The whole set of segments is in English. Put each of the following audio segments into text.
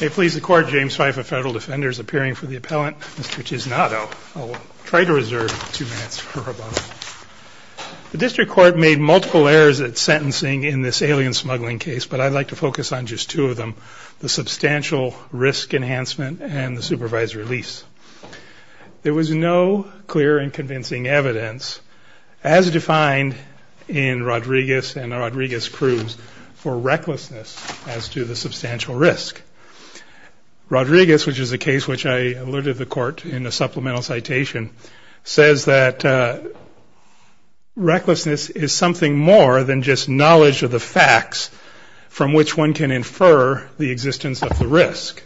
May it please the court, James Feiff, a federal defender, is appearing for the appellant, Mr. Tiznado. I'll try to reserve two minutes for a moment. The district court made multiple errors at sentencing in this alien smuggling case, but I'd like to focus on just two of them, the substantial risk enhancement and the supervised release. There was no clear and convincing evidence, as defined in Rodriguez and Rodriguez-Cruz, for recklessness as to the substantial risk. Rodriguez, which is a case which I alerted the court in a supplemental citation, says that recklessness is something more than just knowledge of the facts from which one can infer the existence of the risk.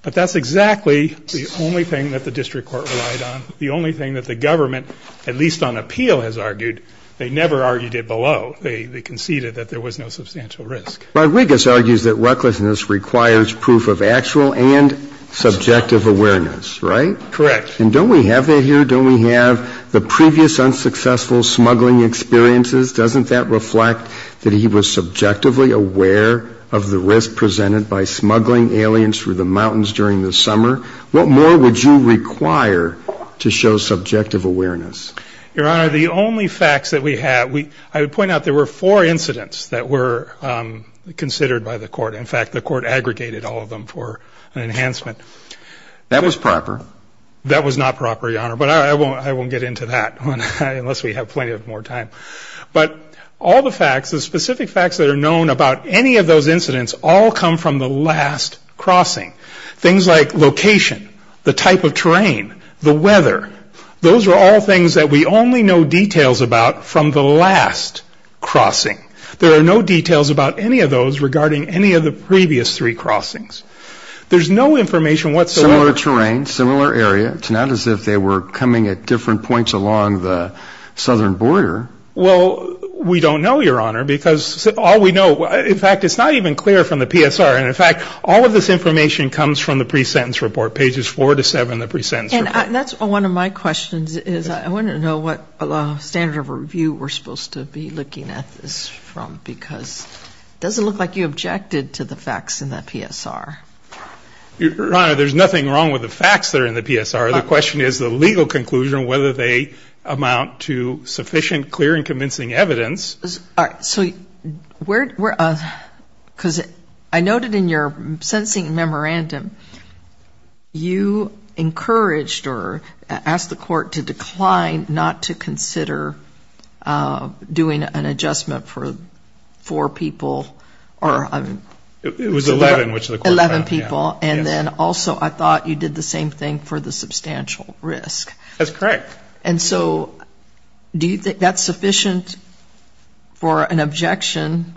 But that's exactly the only thing that the district court relied on, the only thing that the government, at least on appeal, has argued. They never argued it below. They conceded that there was no substantial risk. Rodriguez argues that recklessness requires proof of actual and subjective awareness, right? Correct. And don't we have that here? Don't we have the previous unsuccessful smuggling experiences? Doesn't that reflect that he was subjectively aware of the risk presented by smuggling aliens through the mountains during the summer? What more would you require to show subjective awareness? Your Honor, the only facts that we have, I would point out there were four incidents that were considered by the court. In fact, the court aggregated all of them for an enhancement. That was proper. That was not proper, Your Honor, but I won't get into that unless we have plenty of more time. But all the facts, the specific facts that are known about any of those incidents all come from the last crossing. Things like location, the type of terrain, the weather. Those are all things that we only know details about from the last crossing. There are no details about any of those regarding any of the previous three crossings. There's no information whatsoever. Similar terrain, similar area. It's not as if they were coming at different points along the southern border. Well, we don't know, Your Honor, because all we know, in fact, it's not even clear from the PSR. And, in fact, all of this information comes from the pre-sentence report, pages 4 to 7 of the pre-sentence report. And that's one of my questions is I want to know what standard of review we're supposed to be looking at this from, because it doesn't look like you objected to the facts in the PSR. Your Honor, there's nothing wrong with the facts that are in the PSR. The question is the legal conclusion, whether they amount to sufficient, clear, and convincing evidence. All right. So where, because I noted in your sentencing memorandum you encouraged or asked the court to decline not to consider doing an adjustment for four people. It was 11, which the court found. Eleven people. And then also I thought you did the same thing for the substantial risk. That's correct. And so do you think that's sufficient for an objection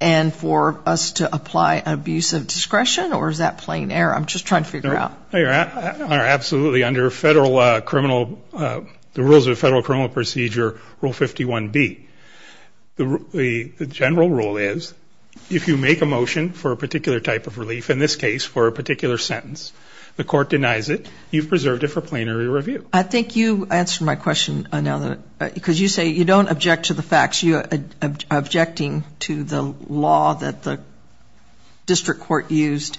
and for us to apply an abuse of discretion, or is that plain error? I'm just trying to figure it out. Your Honor, absolutely. Under the rules of federal criminal procedure, Rule 51B, the general rule is if you make a motion for a particular type of relief, in this case for a particular sentence, the court denies it, you've preserved it for plenary review. I think you answered my question, because you say you don't object to the facts. You're objecting to the law that the district court used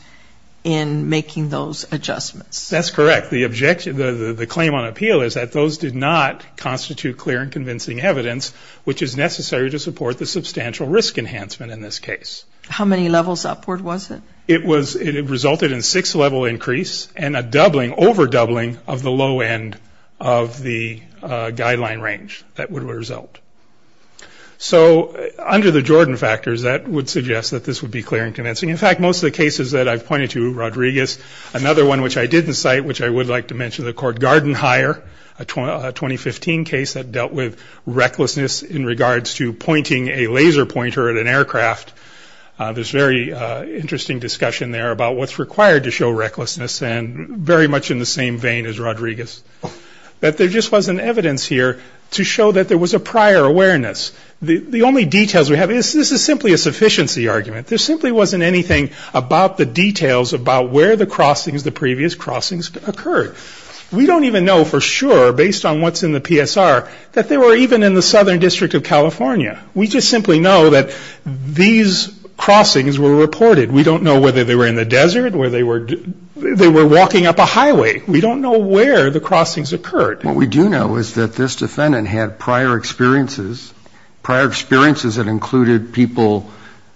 in making those adjustments. That's correct. The claim on appeal is that those did not constitute clear and convincing evidence, which is necessary to support the substantial risk enhancement in this case. How many levels upward was it? It resulted in a six-level increase and a doubling, over-doubling of the low end of the guideline range that would result. So under the Jordan factors, that would suggest that this would be clear and convincing. In fact, most of the cases that I've pointed to, Rodriguez, another one which I didn't cite, which I would like to mention, the court Garden Hire, a 2015 case that dealt with recklessness in regards to pointing a laser pointer at an aircraft. There's very interesting discussion there about what's required to show recklessness, and very much in the same vein as Rodriguez, that there just wasn't evidence here to show that there was a prior awareness. The only details we have is this is simply a sufficiency argument. There simply wasn't anything about the details about where the crossings, the previous crossings, occurred. We don't even know for sure, based on what's in the PSR, that they were even in the Southern District of California. We just simply know that these crossings were reported. We don't know whether they were in the desert, whether they were walking up a highway. We don't know where the crossings occurred. What we do know is that this defendant had prior experiences, prior experiences that included people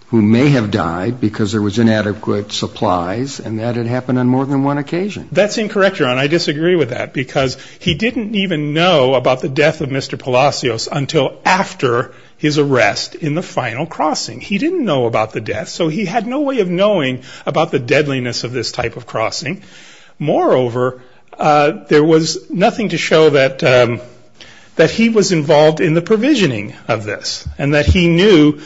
who may have died because there was inadequate supplies, and that had happened on more than one occasion. That's incorrect, Your Honor, and I disagree with that, because he didn't even know about the death of Mr. Palacios until after his arrest in the final crossing. He didn't know about the death, so he had no way of knowing about the deadliness of this type of crossing. Moreover, there was nothing to show that he was involved in the provisioning of this, and that he knew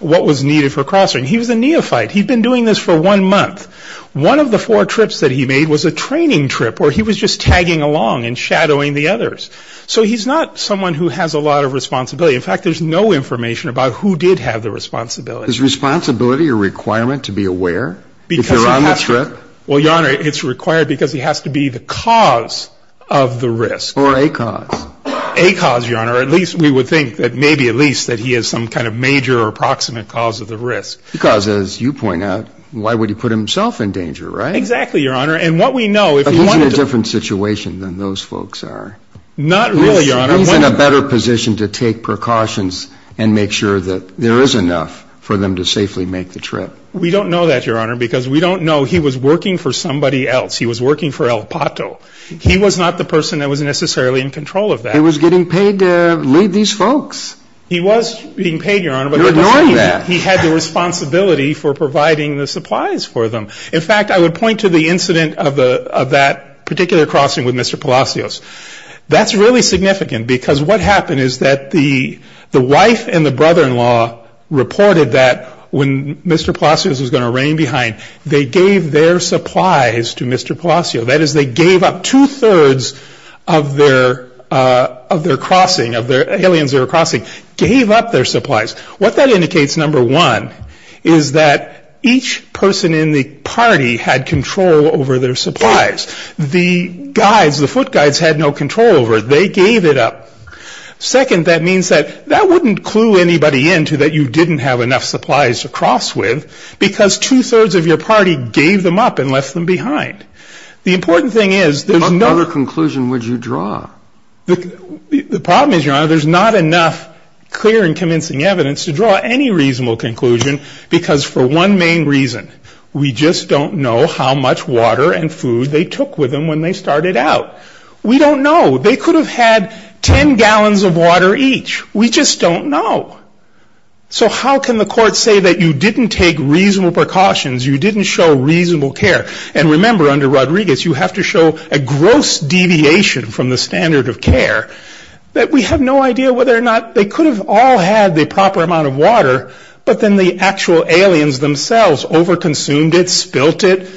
what was needed for crossing. He was a neophyte. He'd been doing this for one month. One of the four trips that he made was a training trip where he was just tagging along and shadowing the others. So he's not someone who has a lot of responsibility. In fact, there's no information about who did have the responsibility. Is responsibility a requirement to be aware if you're on the trip? Well, Your Honor, it's required because he has to be the cause of the risk. Or a cause. A cause, Your Honor, or at least we would think that maybe at least that he has some kind of major or approximate cause of the risk. Because, as you point out, why would he put himself in danger, right? Exactly, Your Honor. And what we know if he wanted to. But he's in a different situation than those folks are. Not really, Your Honor. He's in a better position to take precautions and make sure that there is enough for them to safely make the trip. We don't know that, Your Honor, because we don't know he was working for somebody else. He was working for El Pato. He was not the person that was necessarily in control of that. He was getting paid to lead these folks. He was being paid, Your Honor. You're ignoring that. He had the responsibility for providing the supplies for them. In fact, I would point to the incident of that particular crossing with Mr. Palacios. That's really significant. Because what happened is that the wife and the brother-in-law reported that when Mr. Palacios was going to reign behind, they gave their supplies to Mr. Palacios. That is, they gave up two-thirds of their crossing, of the aliens they were crossing, gave up their supplies. What that indicates, number one, is that each person in the party had control over their supplies. The guides, the foot guides, had no control over it. They gave it up. Second, that means that that wouldn't clue anybody into that you didn't have enough supplies to cross with, because two-thirds of your party gave them up and left them behind. The important thing is there's no — What other conclusion would you draw? The problem is, Your Honor, there's not enough clear and convincing evidence to draw any reasonable conclusion, because for one main reason, we just don't know how much water and food they took with them when they started out. We don't know. They could have had 10 gallons of water each. We just don't know. So how can the court say that you didn't take reasonable precautions, you didn't show reasonable care? And remember, under Rodriguez, you have to show a gross deviation from the standard of care, that we have no idea whether or not they could have all had the proper amount of water, but then the actual aliens themselves overconsumed it, spilt it.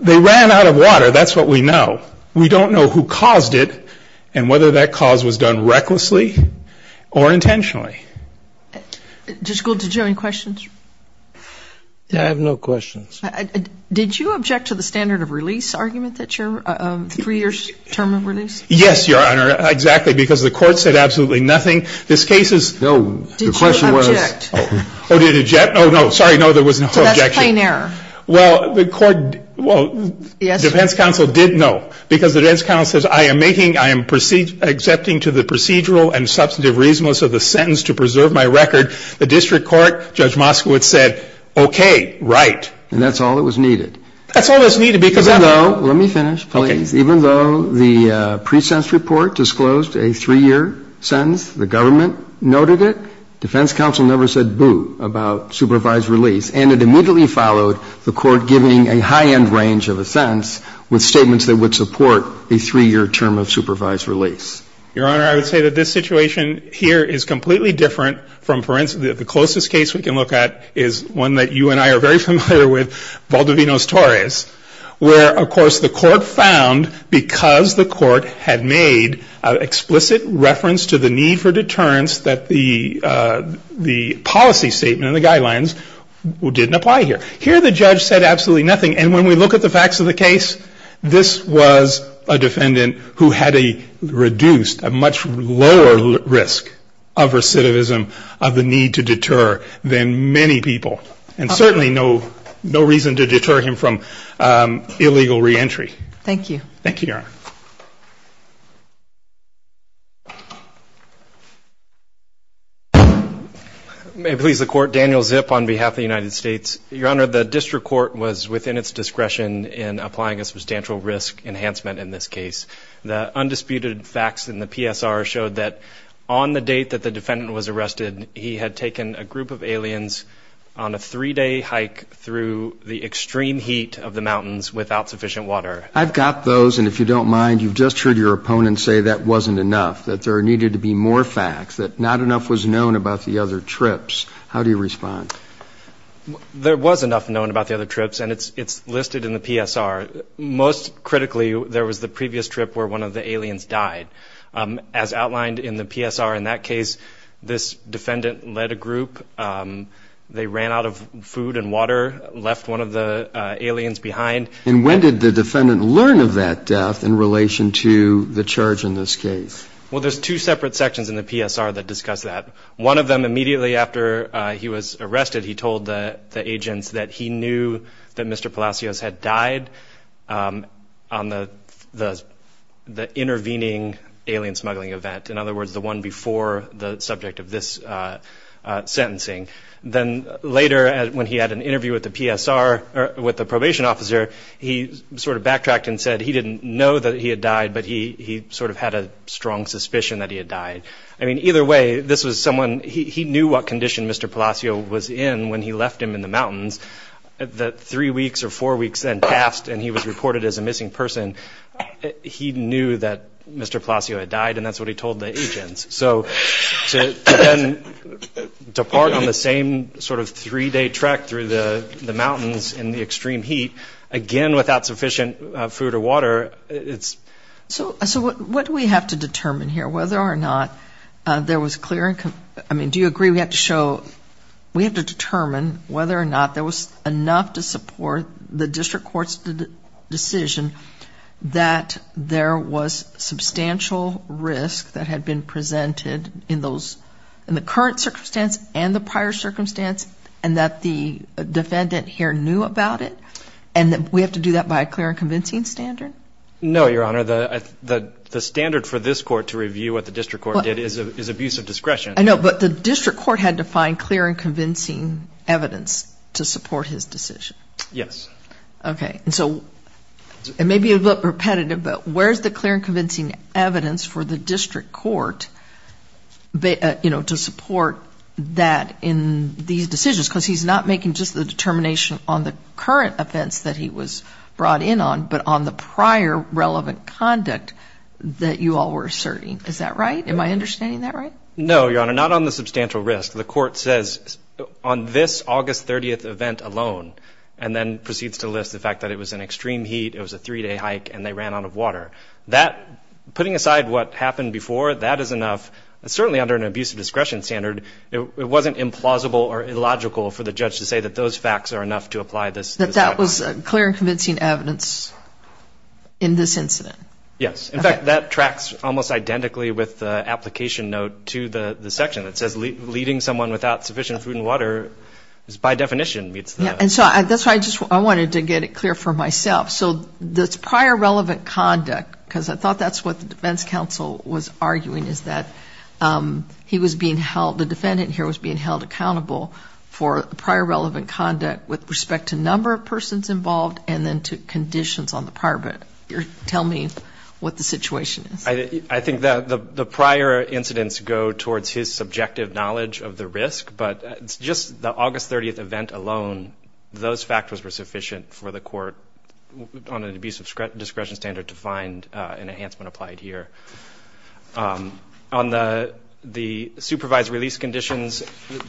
They ran out of water. That's what we know. We don't know who caused it and whether that cause was done recklessly or intentionally. Judge Gould, did you have any questions? I have no questions. Did you object to the standard of release argument that your three-year term of release? Yes, Your Honor, exactly, because the court said absolutely nothing. This case is no. The question was. Did you object? Oh, did I object? Oh, no, sorry, no, there was no objection. So that's plain error. Well, the court, well, defense counsel did know, because the defense counsel says, I am making, I am accepting to the procedural and substantive reasonableness of the sentence to preserve my record. The district court, Judge Moskowitz said, okay, right. And that's all that was needed. That's all that's needed because. Even though, let me finish, please. Okay. Even though the pre-sentence report disclosed a three-year sentence, the government noted it, defense counsel never said boo about supervised release, and it immediately followed the court giving a high-end range of a sentence with statements that would support a three-year term of supervised release. The closest case we can look at is one that you and I are very familiar with, Valdovinos-Torres, where, of course, the court found, because the court had made an explicit reference to the need for deterrence, that the policy statement and the guidelines didn't apply here. Here the judge said absolutely nothing, and when we look at the facts of the case, this was a defendant who had a reduced, a much lower risk of recidivism, of the need to deter, than many people. And certainly no reason to deter him from illegal reentry. Thank you. Thank you, Your Honor. May it please the Court. Daniel Zip on behalf of the United States. Your Honor, the district court was within its discretion in applying a substantial risk enhancement in this case. The undisputed facts in the PSR showed that on the date that the defendant was arrested, he had taken a group of aliens on a three-day hike through the extreme heat of the mountains without sufficient water. I've got those, and if you don't mind, you've just heard your opponent say that wasn't enough, that there needed to be more facts, that not enough was known about the other trips. How do you respond? There was enough known about the other trips, and it's listed in the PSR. Most critically, there was the previous trip where one of the aliens died. As outlined in the PSR in that case, this defendant led a group. They ran out of food and water, left one of the aliens behind. And when did the defendant learn of that death in relation to the charge in this case? Well, there's two separate sections in the PSR that discuss that. One of them, immediately after he was arrested, he told the agents that he knew that Mr. Palacios had died on the intervening alien smuggling event, in other words, the one before the subject of this sentencing. Then later, when he had an interview with the PSR, with the probation officer, he sort of backtracked and said he didn't know that he had died, but he sort of had a strong suspicion that he had died. I mean, either way, this was someone – he knew what condition Mr. Palacios was in when he left him in the mountains. The three weeks or four weeks then passed, and he was reported as a missing person. He knew that Mr. Palacios had died, and that's what he told the agents. So to then depart on the same sort of three-day trek through the mountains in the extreme heat, again without sufficient food or water, it's – So what do we have to determine here, whether or not there was clear – I mean, do you agree we have to show – we have to determine whether or not there was enough to support the district court's decision that there was substantial risk that had been presented in those – in the current circumstance and the prior circumstance, and that the defendant here knew about it? And we have to do that by a clear and convincing standard? No, Your Honor. The standard for this court to review what the district court did is abuse of discretion. I know, but the district court had to find clear and convincing evidence to support his decision. Yes. Okay. And so it may be a little bit repetitive, but where's the clear and convincing evidence for the district court to support that in these decisions? Because he's not making just the determination on the current offense that he was brought in on, but on the prior relevant conduct that you all were asserting. Is that right? Am I understanding that right? No, Your Honor, not on the substantial risk. The court says on this August 30th event alone, and then proceeds to list the fact that it was in extreme heat, it was a three-day hike, and they ran out of water. That – putting aside what happened before, that is enough. Certainly under an abuse of discretion standard, it wasn't implausible or illogical for the judge to say that those facts are enough to apply this – That that was clear and convincing evidence in this incident. Yes. In fact, that tracks almost identically with the application note to the section that says leading someone without sufficient food and water is by definition meets the – And so that's why I just – I wanted to get it clear for myself. So this prior relevant conduct, because I thought that's what the defense counsel was arguing, is that he was being held – the defendant here was being held accountable for prior relevant conduct with respect to number of persons involved and then to conditions on the prior event. Tell me what the situation is. I think that the prior incidents go towards his subjective knowledge of the risk, but just the August 30th event alone, those factors were sufficient for the court on an abuse of discretion standard to find an enhancement applied here. On the supervised release conditions,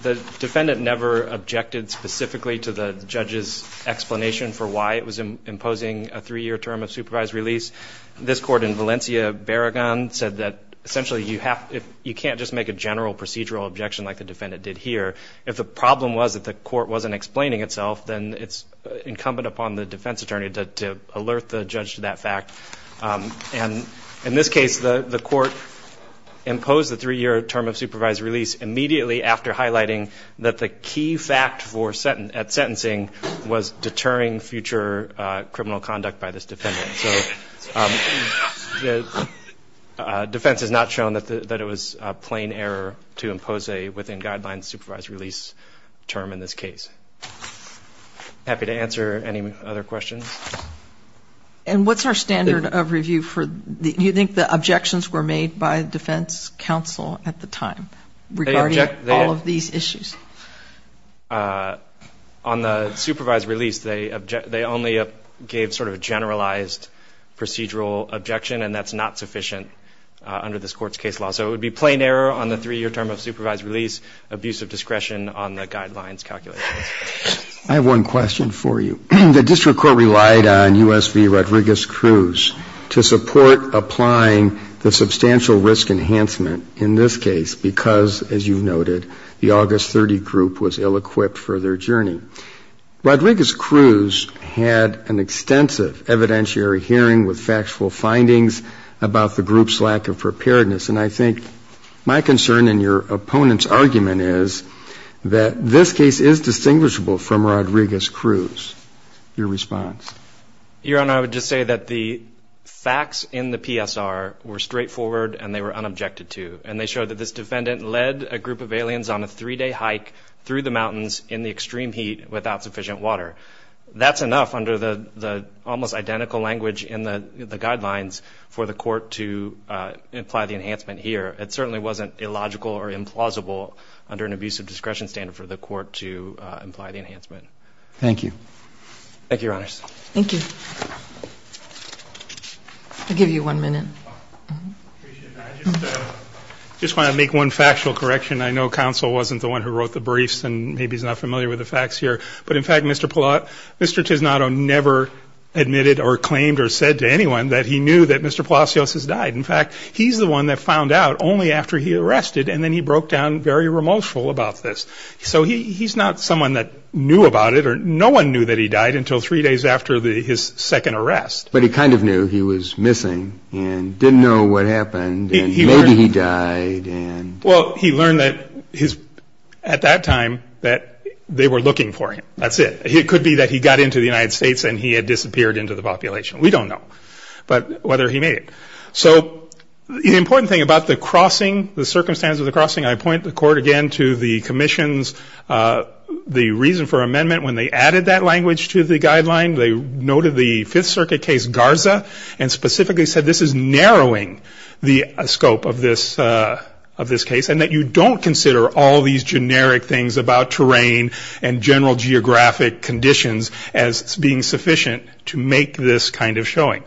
the defendant never objected specifically to the judge's explanation for why it was imposing a three-year term of supervised release. This court in Valencia, Barragan, said that essentially you have – you can't just make a general procedural objection like the defendant did here. If the problem was that the court wasn't explaining itself, then it's incumbent upon the defense attorney to alert the judge to that fact. And in this case, the court imposed the three-year term of supervised release immediately after highlighting that the key fact at sentencing was deterring future criminal conduct by this defendant. So defense has not shown that it was a plain error to impose a within-guidelines supervised release term in this case. Happy to answer any other questions. And what's our standard of review for – Do you think the objections were made by defense counsel at the time regarding all of these issues? On the supervised release, they only gave sort of a generalized procedural objection, and that's not sufficient under this Court's case law. So it would be plain error on the three-year term of supervised release, abuse of discretion on the guidelines calculations. I have one question for you. The district court relied on U.S. v. Rodriguez-Cruz to support applying the substantial risk enhancement in this case because, as you've noted, the August 30 group was ill-equipped for their journey. Rodriguez-Cruz had an extensive evidentiary hearing with factual findings about the group's lack of preparedness. And I think my concern and your opponent's argument is that this case is distinguishable from Rodriguez-Cruz. Your response? Your Honor, I would just say that the facts in the PSR were straightforward and they were unobjected to. And they show that this defendant led a group of aliens on a three-day hike through the mountains in the extreme heat without sufficient water. That's enough under the almost identical language in the guidelines for the Court to imply the enhancement here. It certainly wasn't illogical or implausible under an abuse of discretion standard for the Court to imply the enhancement. Thank you. Thank you, Your Honors. Thank you. I'll give you one minute. I just want to make one factual correction. I know counsel wasn't the one who wrote the briefs, and maybe he's not familiar with the facts here. But, in fact, Mr. Tisnato never admitted or claimed or said to anyone that he knew that Mr. Palacios has died. In fact, he's the one that found out only after he arrested, and then he broke down very remorseful about this. So he's not someone that knew about it, or no one knew that he died until three days after his second arrest. But he kind of knew he was missing and didn't know what happened, and maybe he died. Well, he learned at that time that they were looking for him. That's it. It could be that he got into the United States and he had disappeared into the population. We don't know whether he made it. So the important thing about the crossing, the circumstance of the crossing, I point the court again to the commission's reason for amendment. When they added that language to the guideline, they noted the Fifth Circuit case Garza and specifically said this is narrowing the scope of this case and that you don't consider all these generic things about terrain and general geographic conditions as being sufficient to make this kind of showing.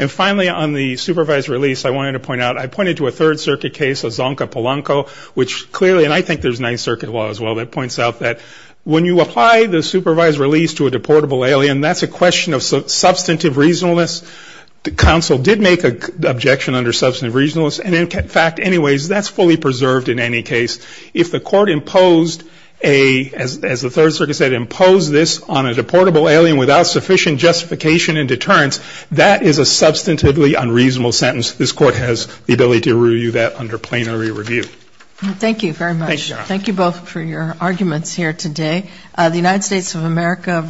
And finally, on the supervised release, I wanted to point out, I pointed to a Third Circuit case of Zonka Polanco, which clearly, and I think there's Ninth Circuit law as well that points out that when you apply the supervised release to a deportable alien, that's a question of substantive reasonableness. The counsel did make an objection under substantive reasonableness, and in fact, anyways, that's fully preserved in any case. If the court imposed a, as the Third Circuit said, imposed this on a deportable alien without sufficient justification and deterrence, that is a substantively unreasonable sentence. This court has the ability to review that under plenary review. Thank you very much. Thank you, Your Honor. Thank you both for your arguments here today. The United States of America v.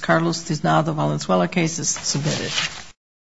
Carlos Duznal, the Valenzuela case is submitted.